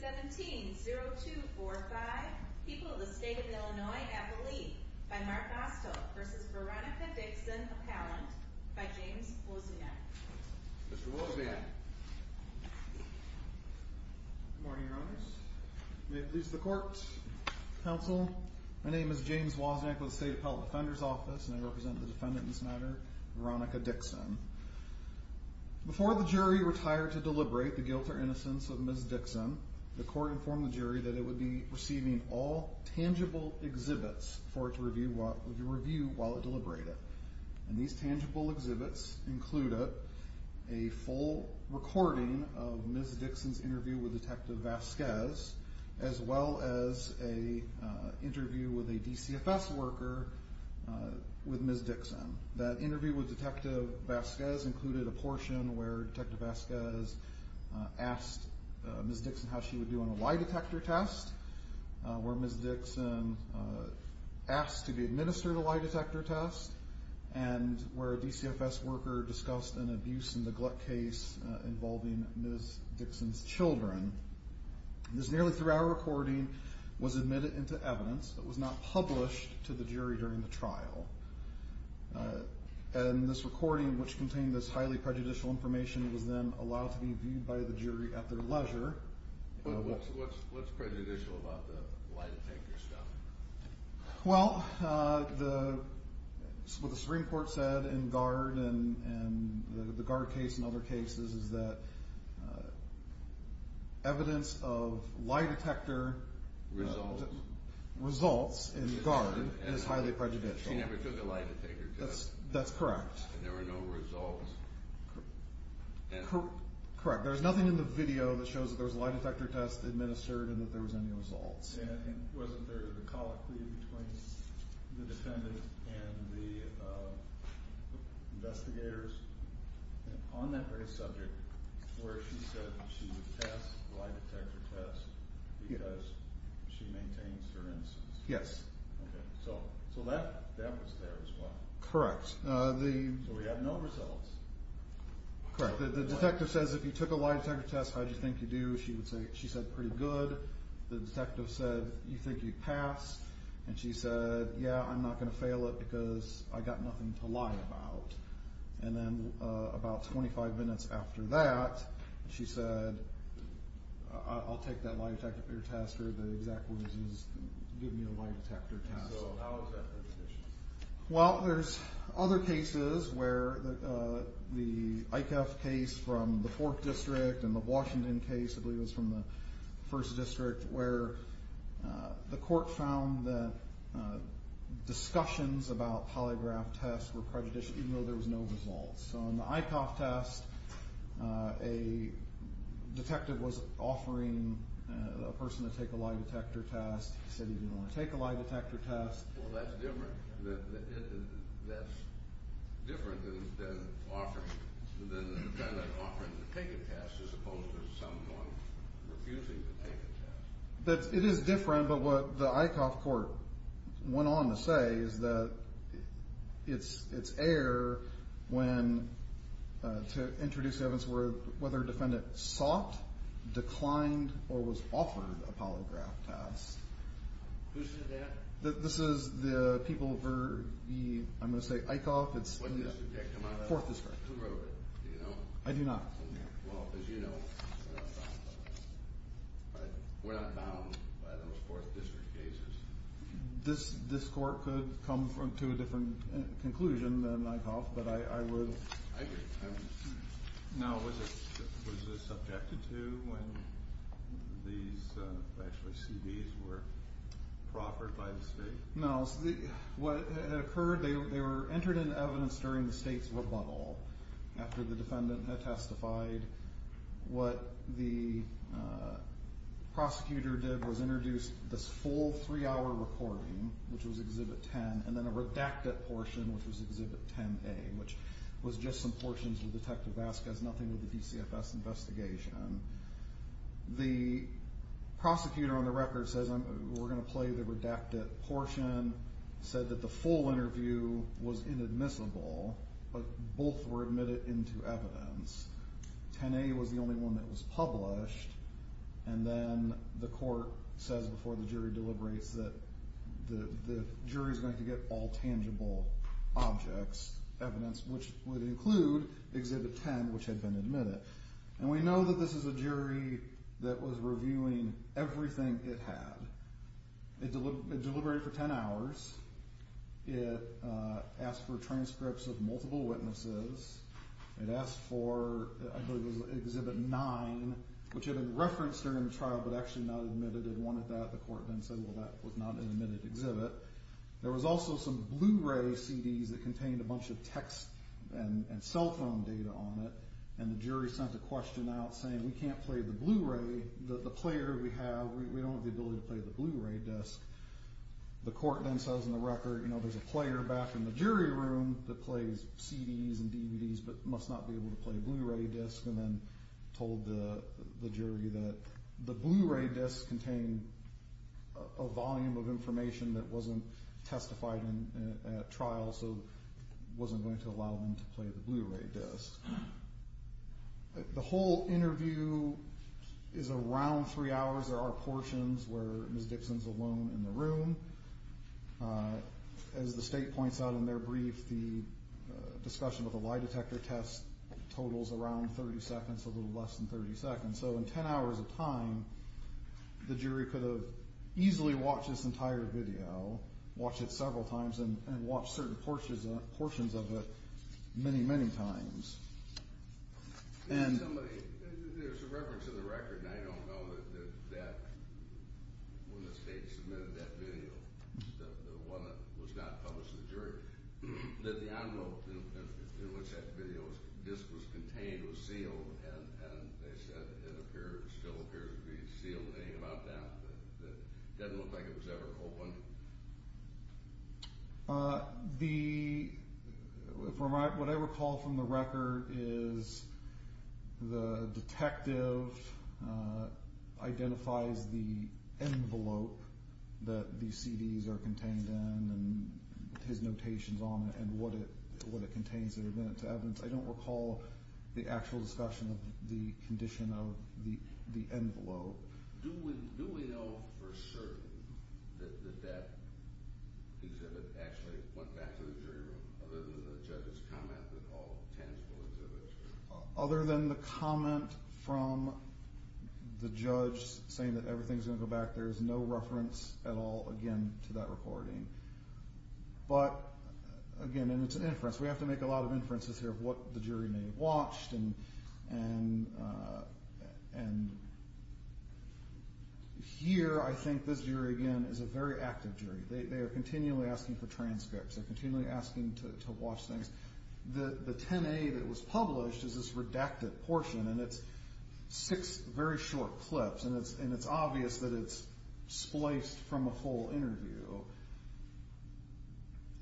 17 0245 people of the state of Illinois at the lead by Mark Osto versus Veronica Dixon appellant by James Wozniak. Mr. Wozniak. Good morning, Your Honors. May it please the court, counsel. My name is James Wozniak with the State Appellate Defender's Office and I represent the defendant in this matter, Veronica Dixon. Before the jury retired to deliberate the guilt or innocence of Ms. Dixon, the court informed the jury that it would be receiving all tangible exhibits for it to review while it deliberated. And these tangible exhibits included a full recording of Ms. Dixon's interview with Detective Vazquez as well as an interview with a DCFS worker with Ms. Dixon. That interview with Detective Vazquez included a portion where asked Ms. Dixon how she would do on a lie detector test, where Ms. Dixon asked to be administered a lie detector test and where a DCFS worker discussed an abuse and neglect case involving Ms. Dixon's children. This nearly three hour recording was admitted into evidence that was not published to the jury during the trial. And this recording which contained this highly prejudicial information was then allowed to be viewed by the jury at their leisure. But what's prejudicial about the lie detector stuff? Well, what the Supreme Court said in GARD and the GARD case and other cases is that evidence of lie detector results in GARD is highly prejudicial. She never took a lie detector test? That's correct. Correct. There's nothing in the video that shows that there was a lie detector test administered and that there was any results. And wasn't there the colloquy between the defendant and the investigators on that very subject where she said she would pass the lie detector test because she maintains her innocence? Yes. Okay. So that was there as well? Correct. So we have no results? Correct. The detective says if you took a lie detector test, how'd you think you'd do? She would say she said pretty good. The detective said you think you'd pass? And she said, yeah, I'm not going to fail it because I got nothing to lie about. And then about 25 minutes after that, she said, I'll take that lie detector test or the exact words is give me a lie detector test. Well, there's other cases where the ICAF case from the fourth district and the Washington case, I believe it was from the first district where the court found that discussions about polygraph tests were prejudicial, even though there was no results. So on the ICAF test, a detective was offering a person to take a lie detector test. He said he didn't want to lie detector test. Well, that's different than offering to take a test as opposed to someone refusing to take a test. It is different. But what the ICAF court went on to say is that it's it's air when to introduce evidence where whether a defendant sought, declined or was offered a polygraph test. Who said that? This is the people for the, I'm gonna say ICAF. It's the fourth district. Who wrote it? Do you know? I do not. Well, as you know, we're not bound by those fourth district cases. This court could come to a different conclusion than ICAF, but I would... I agree. Now, was it subjected to when these, actually, CDs were proffered by the state? No. What occurred, they were entered in evidence during the state's rebuttal after the defendant had testified. What the prosecutor did was introduce this full three hour recording, which was Exhibit 10, and then a redacted portion, which was Exhibit 10A, which was just some portions with Detective Vasquez, nothing with the DCFS investigation. The prosecutor on the record says, we're going to play the redacted portion, said that the full interview was inadmissible, but both were admitted into evidence. 10A was the only one that was published. And then the court says before the jury deliberates that the jury is going to get all tangible objects, evidence, which would admit it. And we know that this is a jury that was reviewing everything it had. It deliberated for 10 hours. It asked for transcripts of multiple witnesses. It asked for, I believe it was Exhibit 9, which had been referenced during the trial, but actually not admitted. It wanted that. The court then said, well, that was not an admitted exhibit. There was also some Blu-ray CDs that contained a bunch of text and cell phone data on it. And the jury sent a question out saying, we can't play the Blu-ray. The player we have, we don't have the ability to play the Blu-ray disc. The court then says in the record, you know, there's a player back in the jury room that plays CDs and DVDs, but must not be able to play a Blu-ray disc. And then told the jury that the Blu-ray disc contained a volume of information that wasn't testified in at trial, so wasn't going to allow them to play the Blu-ray disc. The whole interview is around three hours. There are portions where Ms. Dixon's alone in the room. As the state points out in their brief, the discussion of the lie detector test totals around 30 seconds, a little less than 30 seconds. So in 10 hours of time, the jury was asked to play the Blu-ray disc many, many times. And somebody, there's a reference in the record, and I don't know that when the state submitted that video, the one that was not published to the jury, that the envelope in which that video was contained was sealed. And they said it still appears to be sealed. Anything about that that doesn't look like it was ever opened? What I recall from the record is the detective identifies the envelope that these CDs are contained in and his notations on it and what it contains that are meant to evidence. I don't recall the actual discussion of the condition of the envelope. Do we know for certain that that exhibit actually went back to the jury room, other than the judge's comment that all tens will exhibit? Other than the comment from the judge saying that everything's going to go back, there's no reference at all, again, to that recording. But, again, and it's an inference. We have to make a judgment based on what the jury may have watched. And here, I think this jury, again, is a very active jury. They are continually asking for transcripts. They're continually asking to watch things. The 10A that was published is this redacted portion, and it's six very short clips. And it's obvious that it's spliced from a whole interview.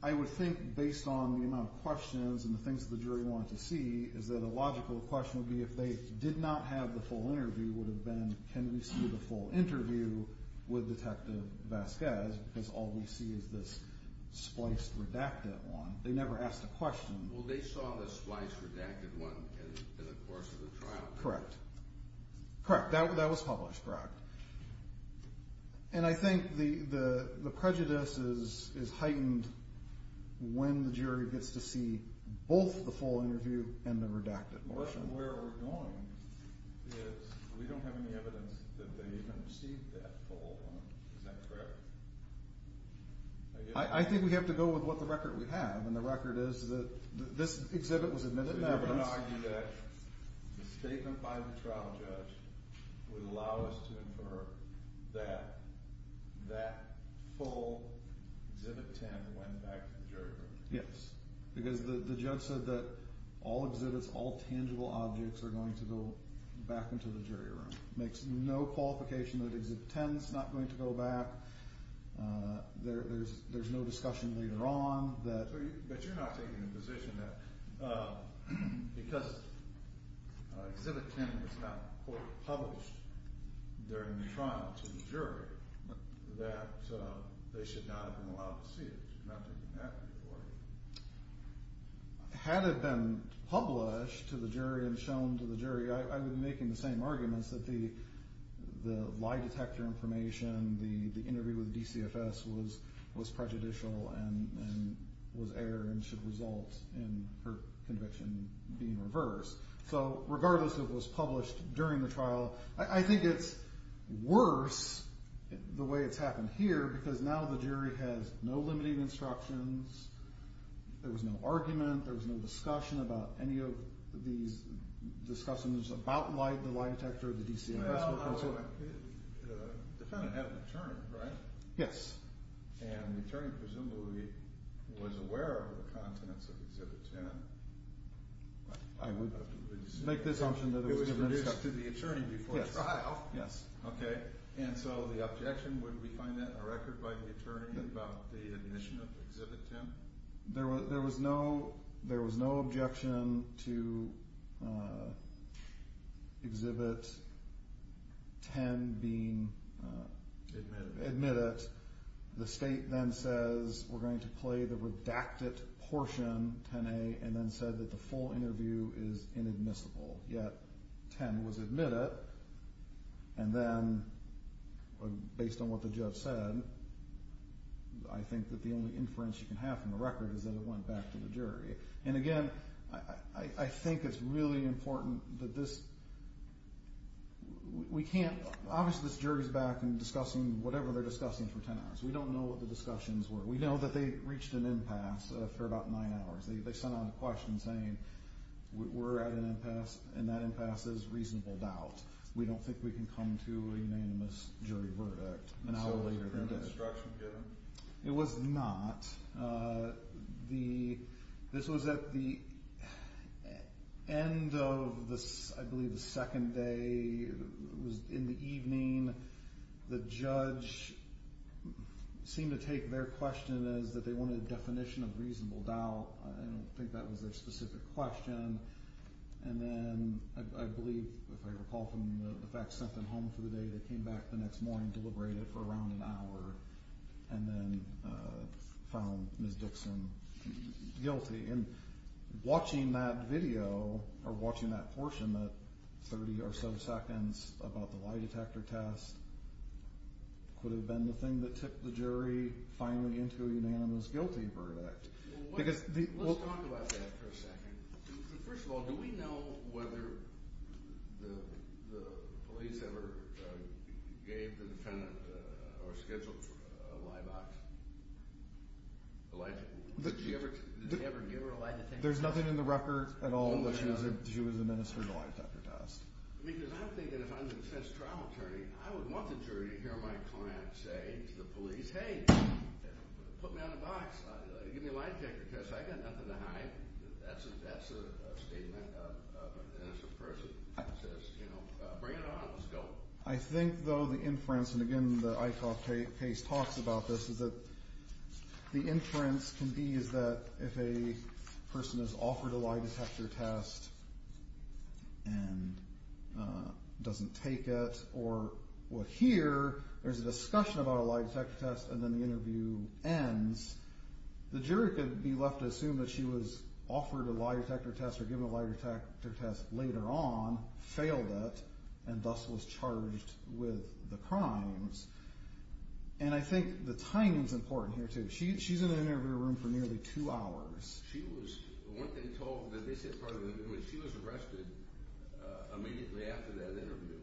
I would think, based on the amount of questions and the questions the jury wanted to see, is that a logical question would be if they did not have the full interview would have been can we see the full interview with Detective Vasquez because all we see is this spliced redacted one. They never asked a question. Well, they saw the spliced redacted one in the course of the trial. Correct. Correct. That was published. Correct. And I think the prejudice is heightened when the jury gets to see both the full interview and the redacted portion. The question where we're going is we don't have any evidence that they even received that full one. Is that correct? I think we have to go with what the record we have, and the record is that this exhibit was admitted in evidence. I would argue that the statement by the trial judge would allow us to infer that that full exhibit 10 went back to the jury room. Yes, because the judge said that all exhibits, all tangible objects, are going to go back into the jury room. It makes no qualification that exhibit 10 is not going to go back. There's no discussion later on that. But you're not taking the position that because exhibit 10 was not quote published during the trial to the jury that they should not have been allowed to see it. You're not taking that before me. Had it been published to the jury and shown to the jury, I would be making the same arguments that the lie detector information, the interview with the DCFS was prejudicial and was error and should result in her conviction being reversed. So regardless if it was published during the trial, I think it's worse the way it's happened here because now the jury has no limiting instructions. There was no argument. There was no discussion about any of these discussions about the lie detector or the DCFS. Well, the defendant had an attorney, right? Yes. And the attorney presumably was aware of the contents of exhibit 10. I would make this assumption that it was given instruction. It was introduced to the attorney before trial. Yes. Okay, and so the objection, would we find that in a record by the attorney about the admission of exhibit 10? There was no objection to exhibit 10 being admitted. The state then says we're going to play the redacted portion, 10A, and then said that the full interview is inadmissible, yet 10 was admitted. And then based on what the judge said, I think that the only inference you can have from the record is that it went back to the jury. And, again, I think it's really important that this – we can't – obviously this jury's back and discussing whatever they're discussing for 10 hours. We don't know what the discussions were. We know that they reached an impasse for about nine hours. They sent out a question saying we're at an impasse, and that impasse is reasonable doubt. We don't think we can come to a unanimous jury verdict an hour later than that. So did the instruction get them? It was not. This was at the end of, I believe, the second day. It was in the evening. The judge seemed to take their question as that they wanted a definition of reasonable doubt. I don't think that was their specific question. And then I believe, if I recall from the facts, sent them home for the day. They came back the next morning, deliberated for around an hour, and then found Ms. Dixon guilty. And watching that video or watching that portion, that 30 or so seconds about the lie detector test, could have been the thing that tipped the jury finally into a unanimous guilty verdict. Let's talk about that for a second. First of all, do we know whether the police ever gave the defendant or scheduled a lie detector test? Did she ever give her a lie detector test? There's nothing in the record at all that she was administered a lie detector test. Because I'm thinking if I'm the defense trial attorney, put me on the box, give me a lie detector test. I've got nothing to hide. That's a statement of an innocent person who says, you know, bring it on, let's go. I think, though, the inference, and again, the Eichhoff case talks about this, is that the inference can be that if a person is offered a lie detector test and doesn't take it, or here, there's a discussion about a lie detector test, and then the interview ends, the jury could be left to assume that she was offered a lie detector test or given a lie detector test later on, failed it, and thus was charged with the crimes. And I think the timing is important here, too. She's in the interview room for nearly two hours. She was arrested immediately after that interview.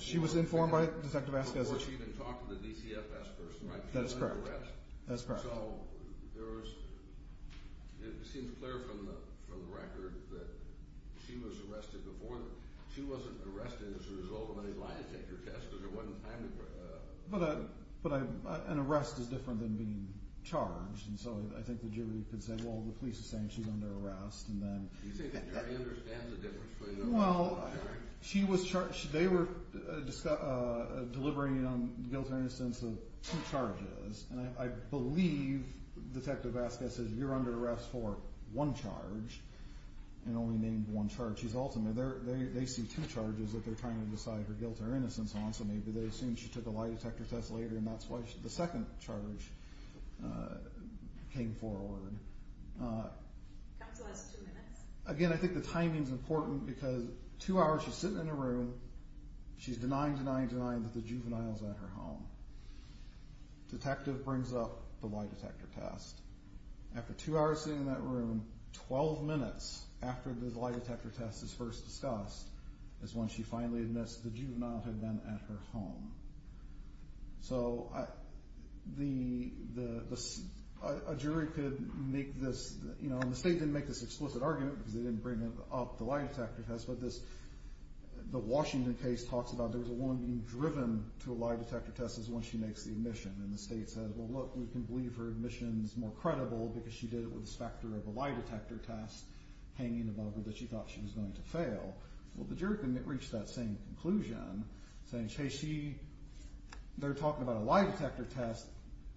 She was informed by Detective Vasquez. Before she even talked to the DCFS person, right? That's correct. She was under arrest. That's correct. So it seems clear from the record that she was arrested before. She wasn't arrested as a result of a lie detector test because there wasn't time to… But an arrest is different than being charged, and so I think the jury could say, well, the police are saying she's under arrest. Do you think the jury understands the difference? Well, they were delivering on guilt or innocence of two charges, and I believe Detective Vasquez says you're under arrest for one charge and only named one charge. She's ultimately there. They see two charges that they're trying to decide her guilt or innocence on, so maybe they assume she took a lie detector test later, and that's why the second charge came forward. Counsel has two minutes. Again, I think the timing is important because two hours she's sitting in a room, she's denying, denying, denying that the juvenile is at her home. Detective brings up the lie detector test. After two hours sitting in that room, 12 minutes after the lie detector test is first discussed is when she finally admits the juvenile had been at her home. So a jury could make this, you know, and the state didn't make this explicit argument because they didn't bring up the lie detector test, but the Washington case talks about there's a woman being driven to a lie detector test is when she makes the admission, and the state says, well, look, we can believe her admission is more credible because she did it with the specter of a lie detector test hanging above her that she thought she was going to fail. Well, the jury can reach that same conclusion, saying, hey, she, they're talking about a lie detector test.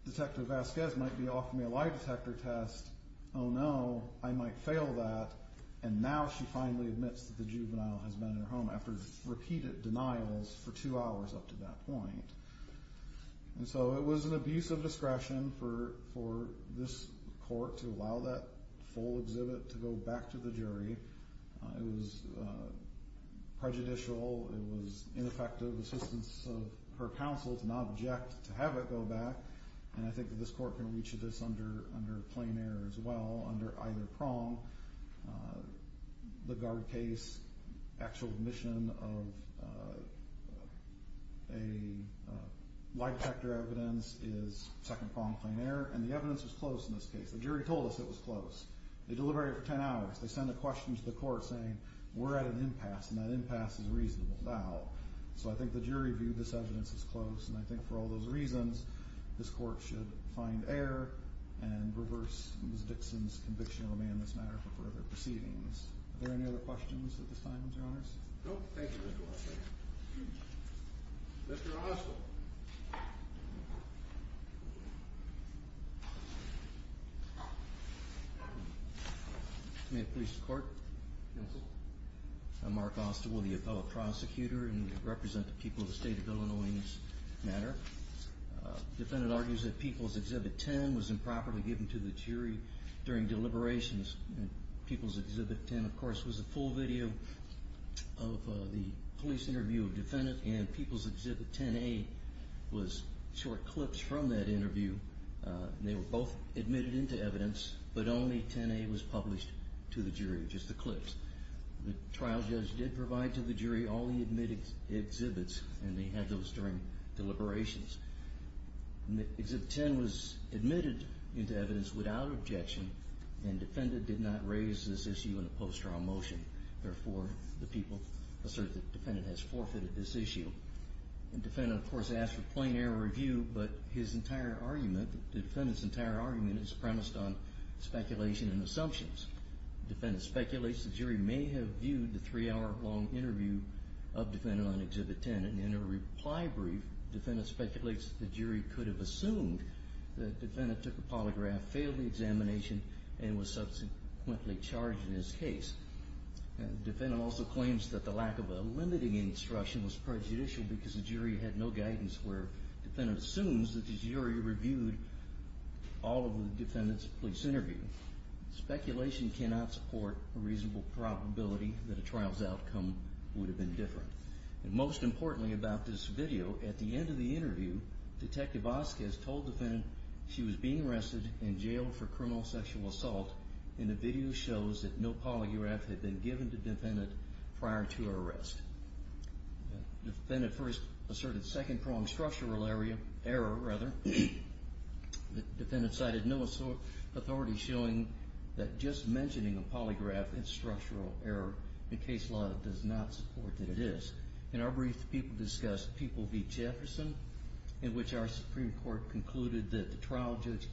Detective Vasquez might be offering me a lie detector test. Oh, no, I might fail that. And now she finally admits that the juvenile has been at her home after repeated denials for two hours up to that point. And so it was an abuse of discretion for this court to allow that full exhibit to go back to the jury. It was prejudicial. It was ineffective assistance of her counsel to not object to have it go back, and I think that this court can reach this under plain error as well, under either prong, the guard case, actual admission of a lie detector evidence is second prong plain error, and the evidence was close in this case. The jury told us it was close. They delivered it for 10 hours. They sent a question to the court saying, we're at an impasse, and that impasse is reasonable now. So I think the jury viewed this evidence as close, and I think for all those reasons this court should find error and reverse Ms. Dixon's conviction on me in this matter for further proceedings. Are there any other questions at this time, Mr. Honors? No, thank you, Mr. Vasquez. Mr. Oswald. May it please the court? Yes. I'm Mark Oswald, the appellate prosecutor, and I represent the people of the state of Illinois in this matter. The defendant argues that People's Exhibit 10 was improperly given to the jury during deliberations. People's Exhibit 10, of course, was a full video of the police interview of the defendant, and People's Exhibit 10A was short clips from that interview. They were both admitted into evidence, but only 10A was published to the jury, just the clips. The trial judge did provide to the jury all the admitted exhibits, and they had those during deliberations. Exhibit 10 was admitted into evidence without objection, and the defendant did not raise this issue in a post-trial motion. Therefore, the people assert that the defendant has forfeited this issue. The defendant, of course, asked for plain error review, but his entire argument, the defendant's entire argument, is premised on speculation and assumptions. The defendant speculates the jury may have viewed the three-hour long interview of the defendant on Exhibit 10, and in a reply brief, the defendant speculates the jury could have assumed that the defendant took a polygraph, failed the examination, and was subsequently charged in his case. The defendant also claims that the lack of a limiting instruction was prejudicial because the jury had no guidance, where the defendant assumes that the jury reviewed all of the defendant's police interview. Speculation cannot support a reasonable probability that a trial's outcome would have been different. Most importantly about this video, at the end of the interview, Detective Vasquez told the defendant she was being arrested and jailed for criminal sexual assault, and the video shows that no polygraph had been given to the defendant prior to her arrest. The defendant first asserted second-pronged structural error. The defendant cited no authority, showing that just mentioning a polygraph is structural error in case law that does not support that it is. In our brief, the people discussed People v. Jefferson, in which our Supreme Court concluded that the trial judge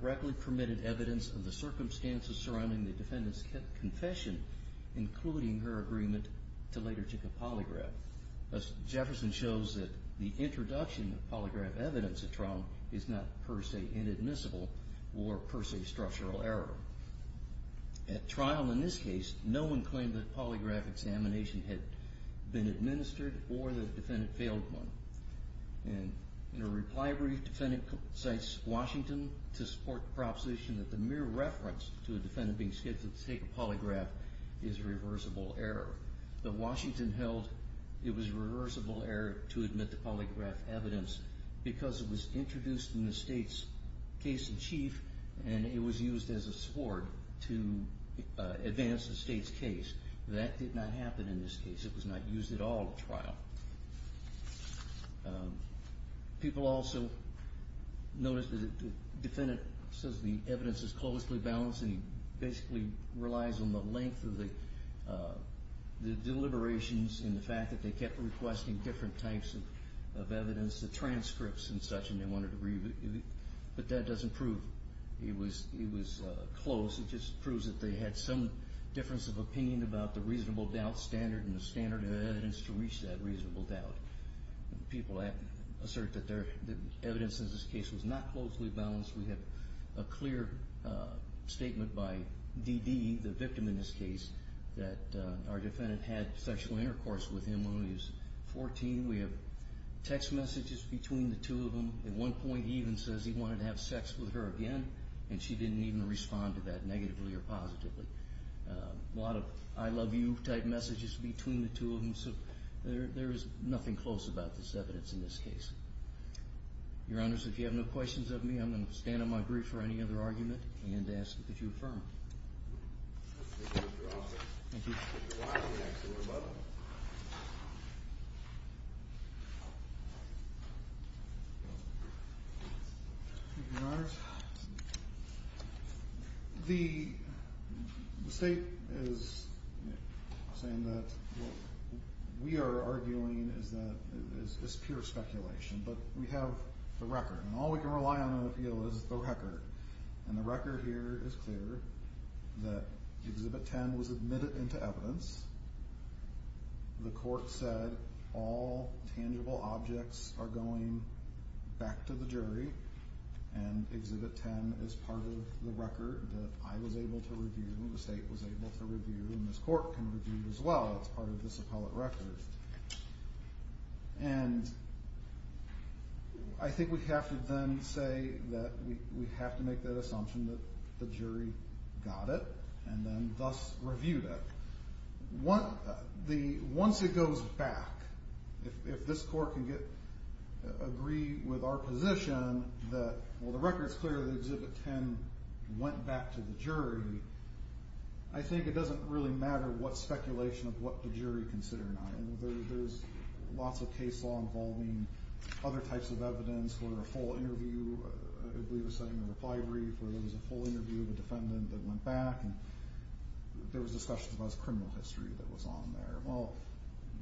correctly permitted evidence of the circumstances surrounding the defendant's confession, including her agreement to later take a polygraph. Jefferson shows that the introduction of polygraph evidence at trial is not per se inadmissible or per se structural error. At trial in this case, no one claimed that a polygraph examination had been administered or that the defendant failed one. In a reply brief, the defendant cites Washington to support the proposition that polygraph is reversible error. But Washington held it was reversible error to admit the polygraph evidence because it was introduced in the state's case in chief and it was used as a sward to advance the state's case. That did not happen in this case. It was not used at all at trial. People also noticed that the defendant says the evidence is closely balanced and basically relies on the length of the deliberations and the fact that they kept requesting different types of evidence, the transcripts and such, and they wanted to review it. But that doesn't prove it was close. It just proves that they had some difference of opinion about the reasonable doubt standard and the standard of evidence to reach that reasonable doubt. People assert that the evidence in this case was not closely balanced. We have a clear statement by Dee Dee, the victim in this case, that our defendant had sexual intercourse with him when he was 14. We have text messages between the two of them. At one point he even says he wanted to have sex with her again and she didn't even respond to that negatively or positively. A lot of I love you type messages between the two of them. So there is nothing close about this evidence in this case. Your Honors, if you have no questions of me, I'm going to stand on my grief for any other argument and ask that you affirm it. Thank you. Your Honors, the State is saying that what we are arguing is pure speculation, but we have the record. All we can rely on in the appeal is the record. The record here is clear that Exhibit 10 was admitted into evidence. The court said all tangible objects are going back to the jury and Exhibit 10 is part of the record that I was able to review and the State was able to review and this court can review as well. It's part of this appellate record. And I think we have to then say that we have to make that assumption that the jury got it and then thus reviewed it. Once it goes back, if this court can agree with our position that the record is clear that Exhibit 10 went back to the jury, I think it doesn't really matter what speculation of what the jury considered. There's lots of case law involving other types of evidence where a full interview, I believe, was sent in a reply brief where there was a full interview of a defendant that went back and there was discussion about his criminal history that was on there. Well,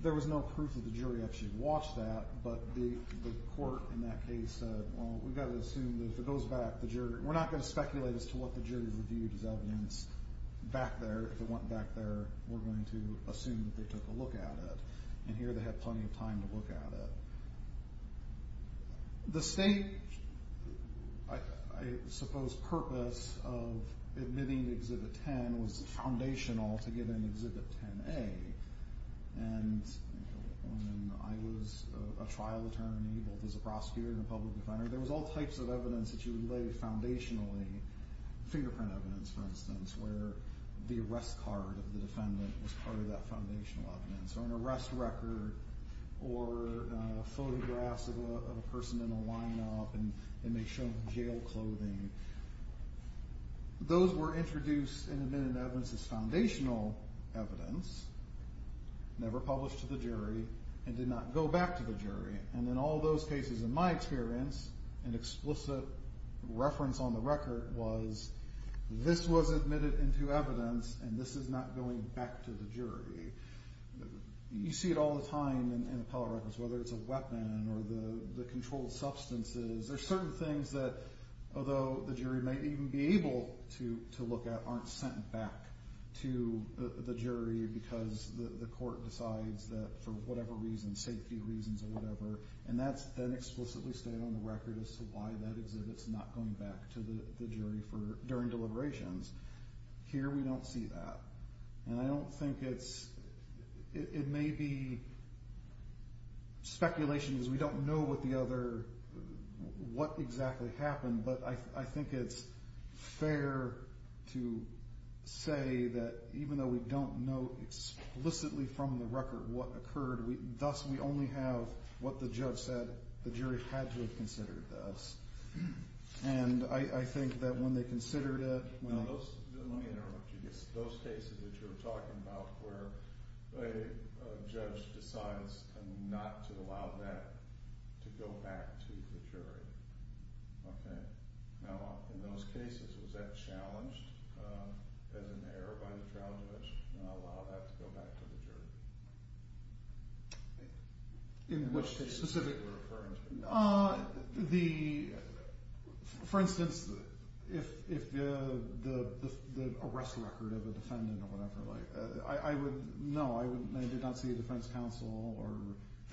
there was no proof that the jury actually watched that, but the court in that case said, well, we've got to assume that if it goes back, we're not going to speculate as to what the jury reviewed as evidence back there. If it went back there, we're going to assume that they took a look at it. And here they had plenty of time to look at it. The State, I suppose, purpose of admitting Exhibit 10 was foundational to getting Exhibit 10A. And when I was a trial attorney, both as a prosecutor and a public defender, there was all types of evidence that you would lay foundationally, fingerprint evidence, for instance, where the arrest card of the defendant was part of that foundational evidence or an arrest record or photographs of a person in a lineup and they showed jail clothing. Those were introduced and admitted to evidence as foundational evidence, never published to the jury, and did not go back to the jury. And in all those cases, in my experience, an explicit reference on the record was this was admitted into evidence and this is not going back to the jury. You see it all the time in appellate records, whether it's a weapon or the controlled substances. There are certain things that, although the jury may even be able to look at, aren't sent back to the jury because the court decides that for whatever reason, safety reasons or whatever, and that's then explicitly stated on the record as to why that exhibit's not going back to the jury during deliberations. Here we don't see that. And I don't think it's – it may be speculation because we don't know what the other – what exactly happened, but I think it's fair to say that even though we don't know explicitly from the record what occurred, thus we only have what the judge said the jury had to have considered thus. And I think that when they considered it – Let me interrupt you. Those cases that you were talking about where a judge decides not to allow that to go back to the jury, okay, now in those cases, was that challenged as an error by the trial judge to not allow that to go back to the jury? In which case specifically are you referring to? The – for instance, if the arrest record of a defendant or whatever, I would – no, I did not see the defense counsel or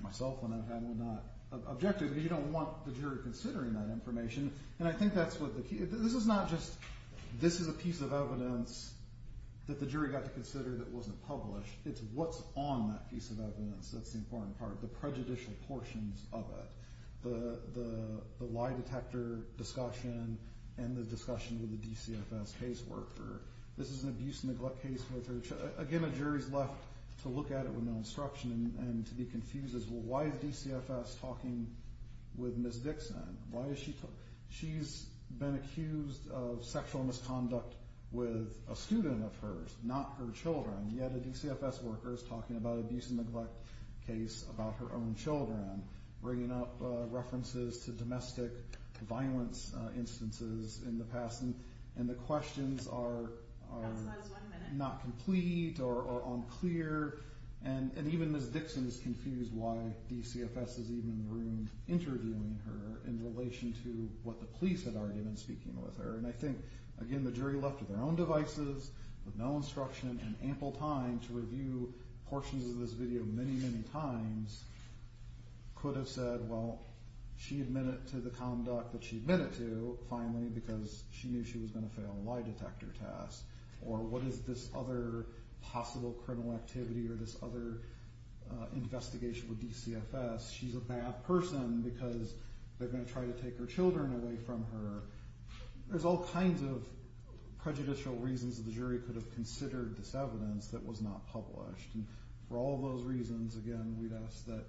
myself when I had would not object to it because you don't want the jury considering that information. And I think that's what the key – this is not just – this is a piece of evidence that the jury got to consider that wasn't published. It's what's on that piece of evidence that's the important part, the prejudicial portions of it, the lie detector discussion and the discussion with the DCFS caseworker. This is an abuse and neglect case. Again, a jury's left to look at it with no instruction and to be confused as, well, why is DCFS talking with Ms. Dixon? Why is she – she's been accused of sexual misconduct with a student of hers, not her children, yet a DCFS worker is talking about an abuse and neglect case about her own children, bringing up references to domestic violence instances in the past, and the questions are not complete or unclear. And even Ms. Dixon is confused why DCFS is even in the room interviewing her in relation to what the police had argued in speaking with her. And I think, again, the jury left with their own devices, with no instruction, and ample time to review portions of this video many, many times could have said, well, she admitted to the conduct that she admitted to, finally, because she knew she was going to fail a lie detector test, or what is this other possible criminal activity or this other investigation with DCFS? She's a bad person because they're going to try to take her children away from her. There's all kinds of prejudicial reasons that the jury could have considered this evidence that was not published, and for all those reasons, again, we'd ask that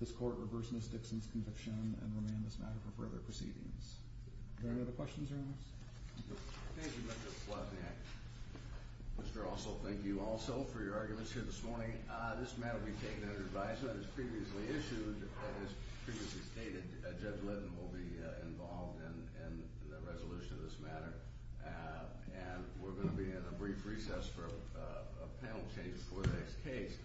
this court reverse Ms. Dixon's conviction and remand this matter for further proceedings. Are there any other questions or comments? Thank you, Mr. Slavniak. Mr. Russell, thank you also for your arguments here this morning. This matter will be taken under advisement as previously issued, as previously stated, Judge Litton will be involved in the resolution of this matter, and we're going to be in a brief recess for a panel change before the next case.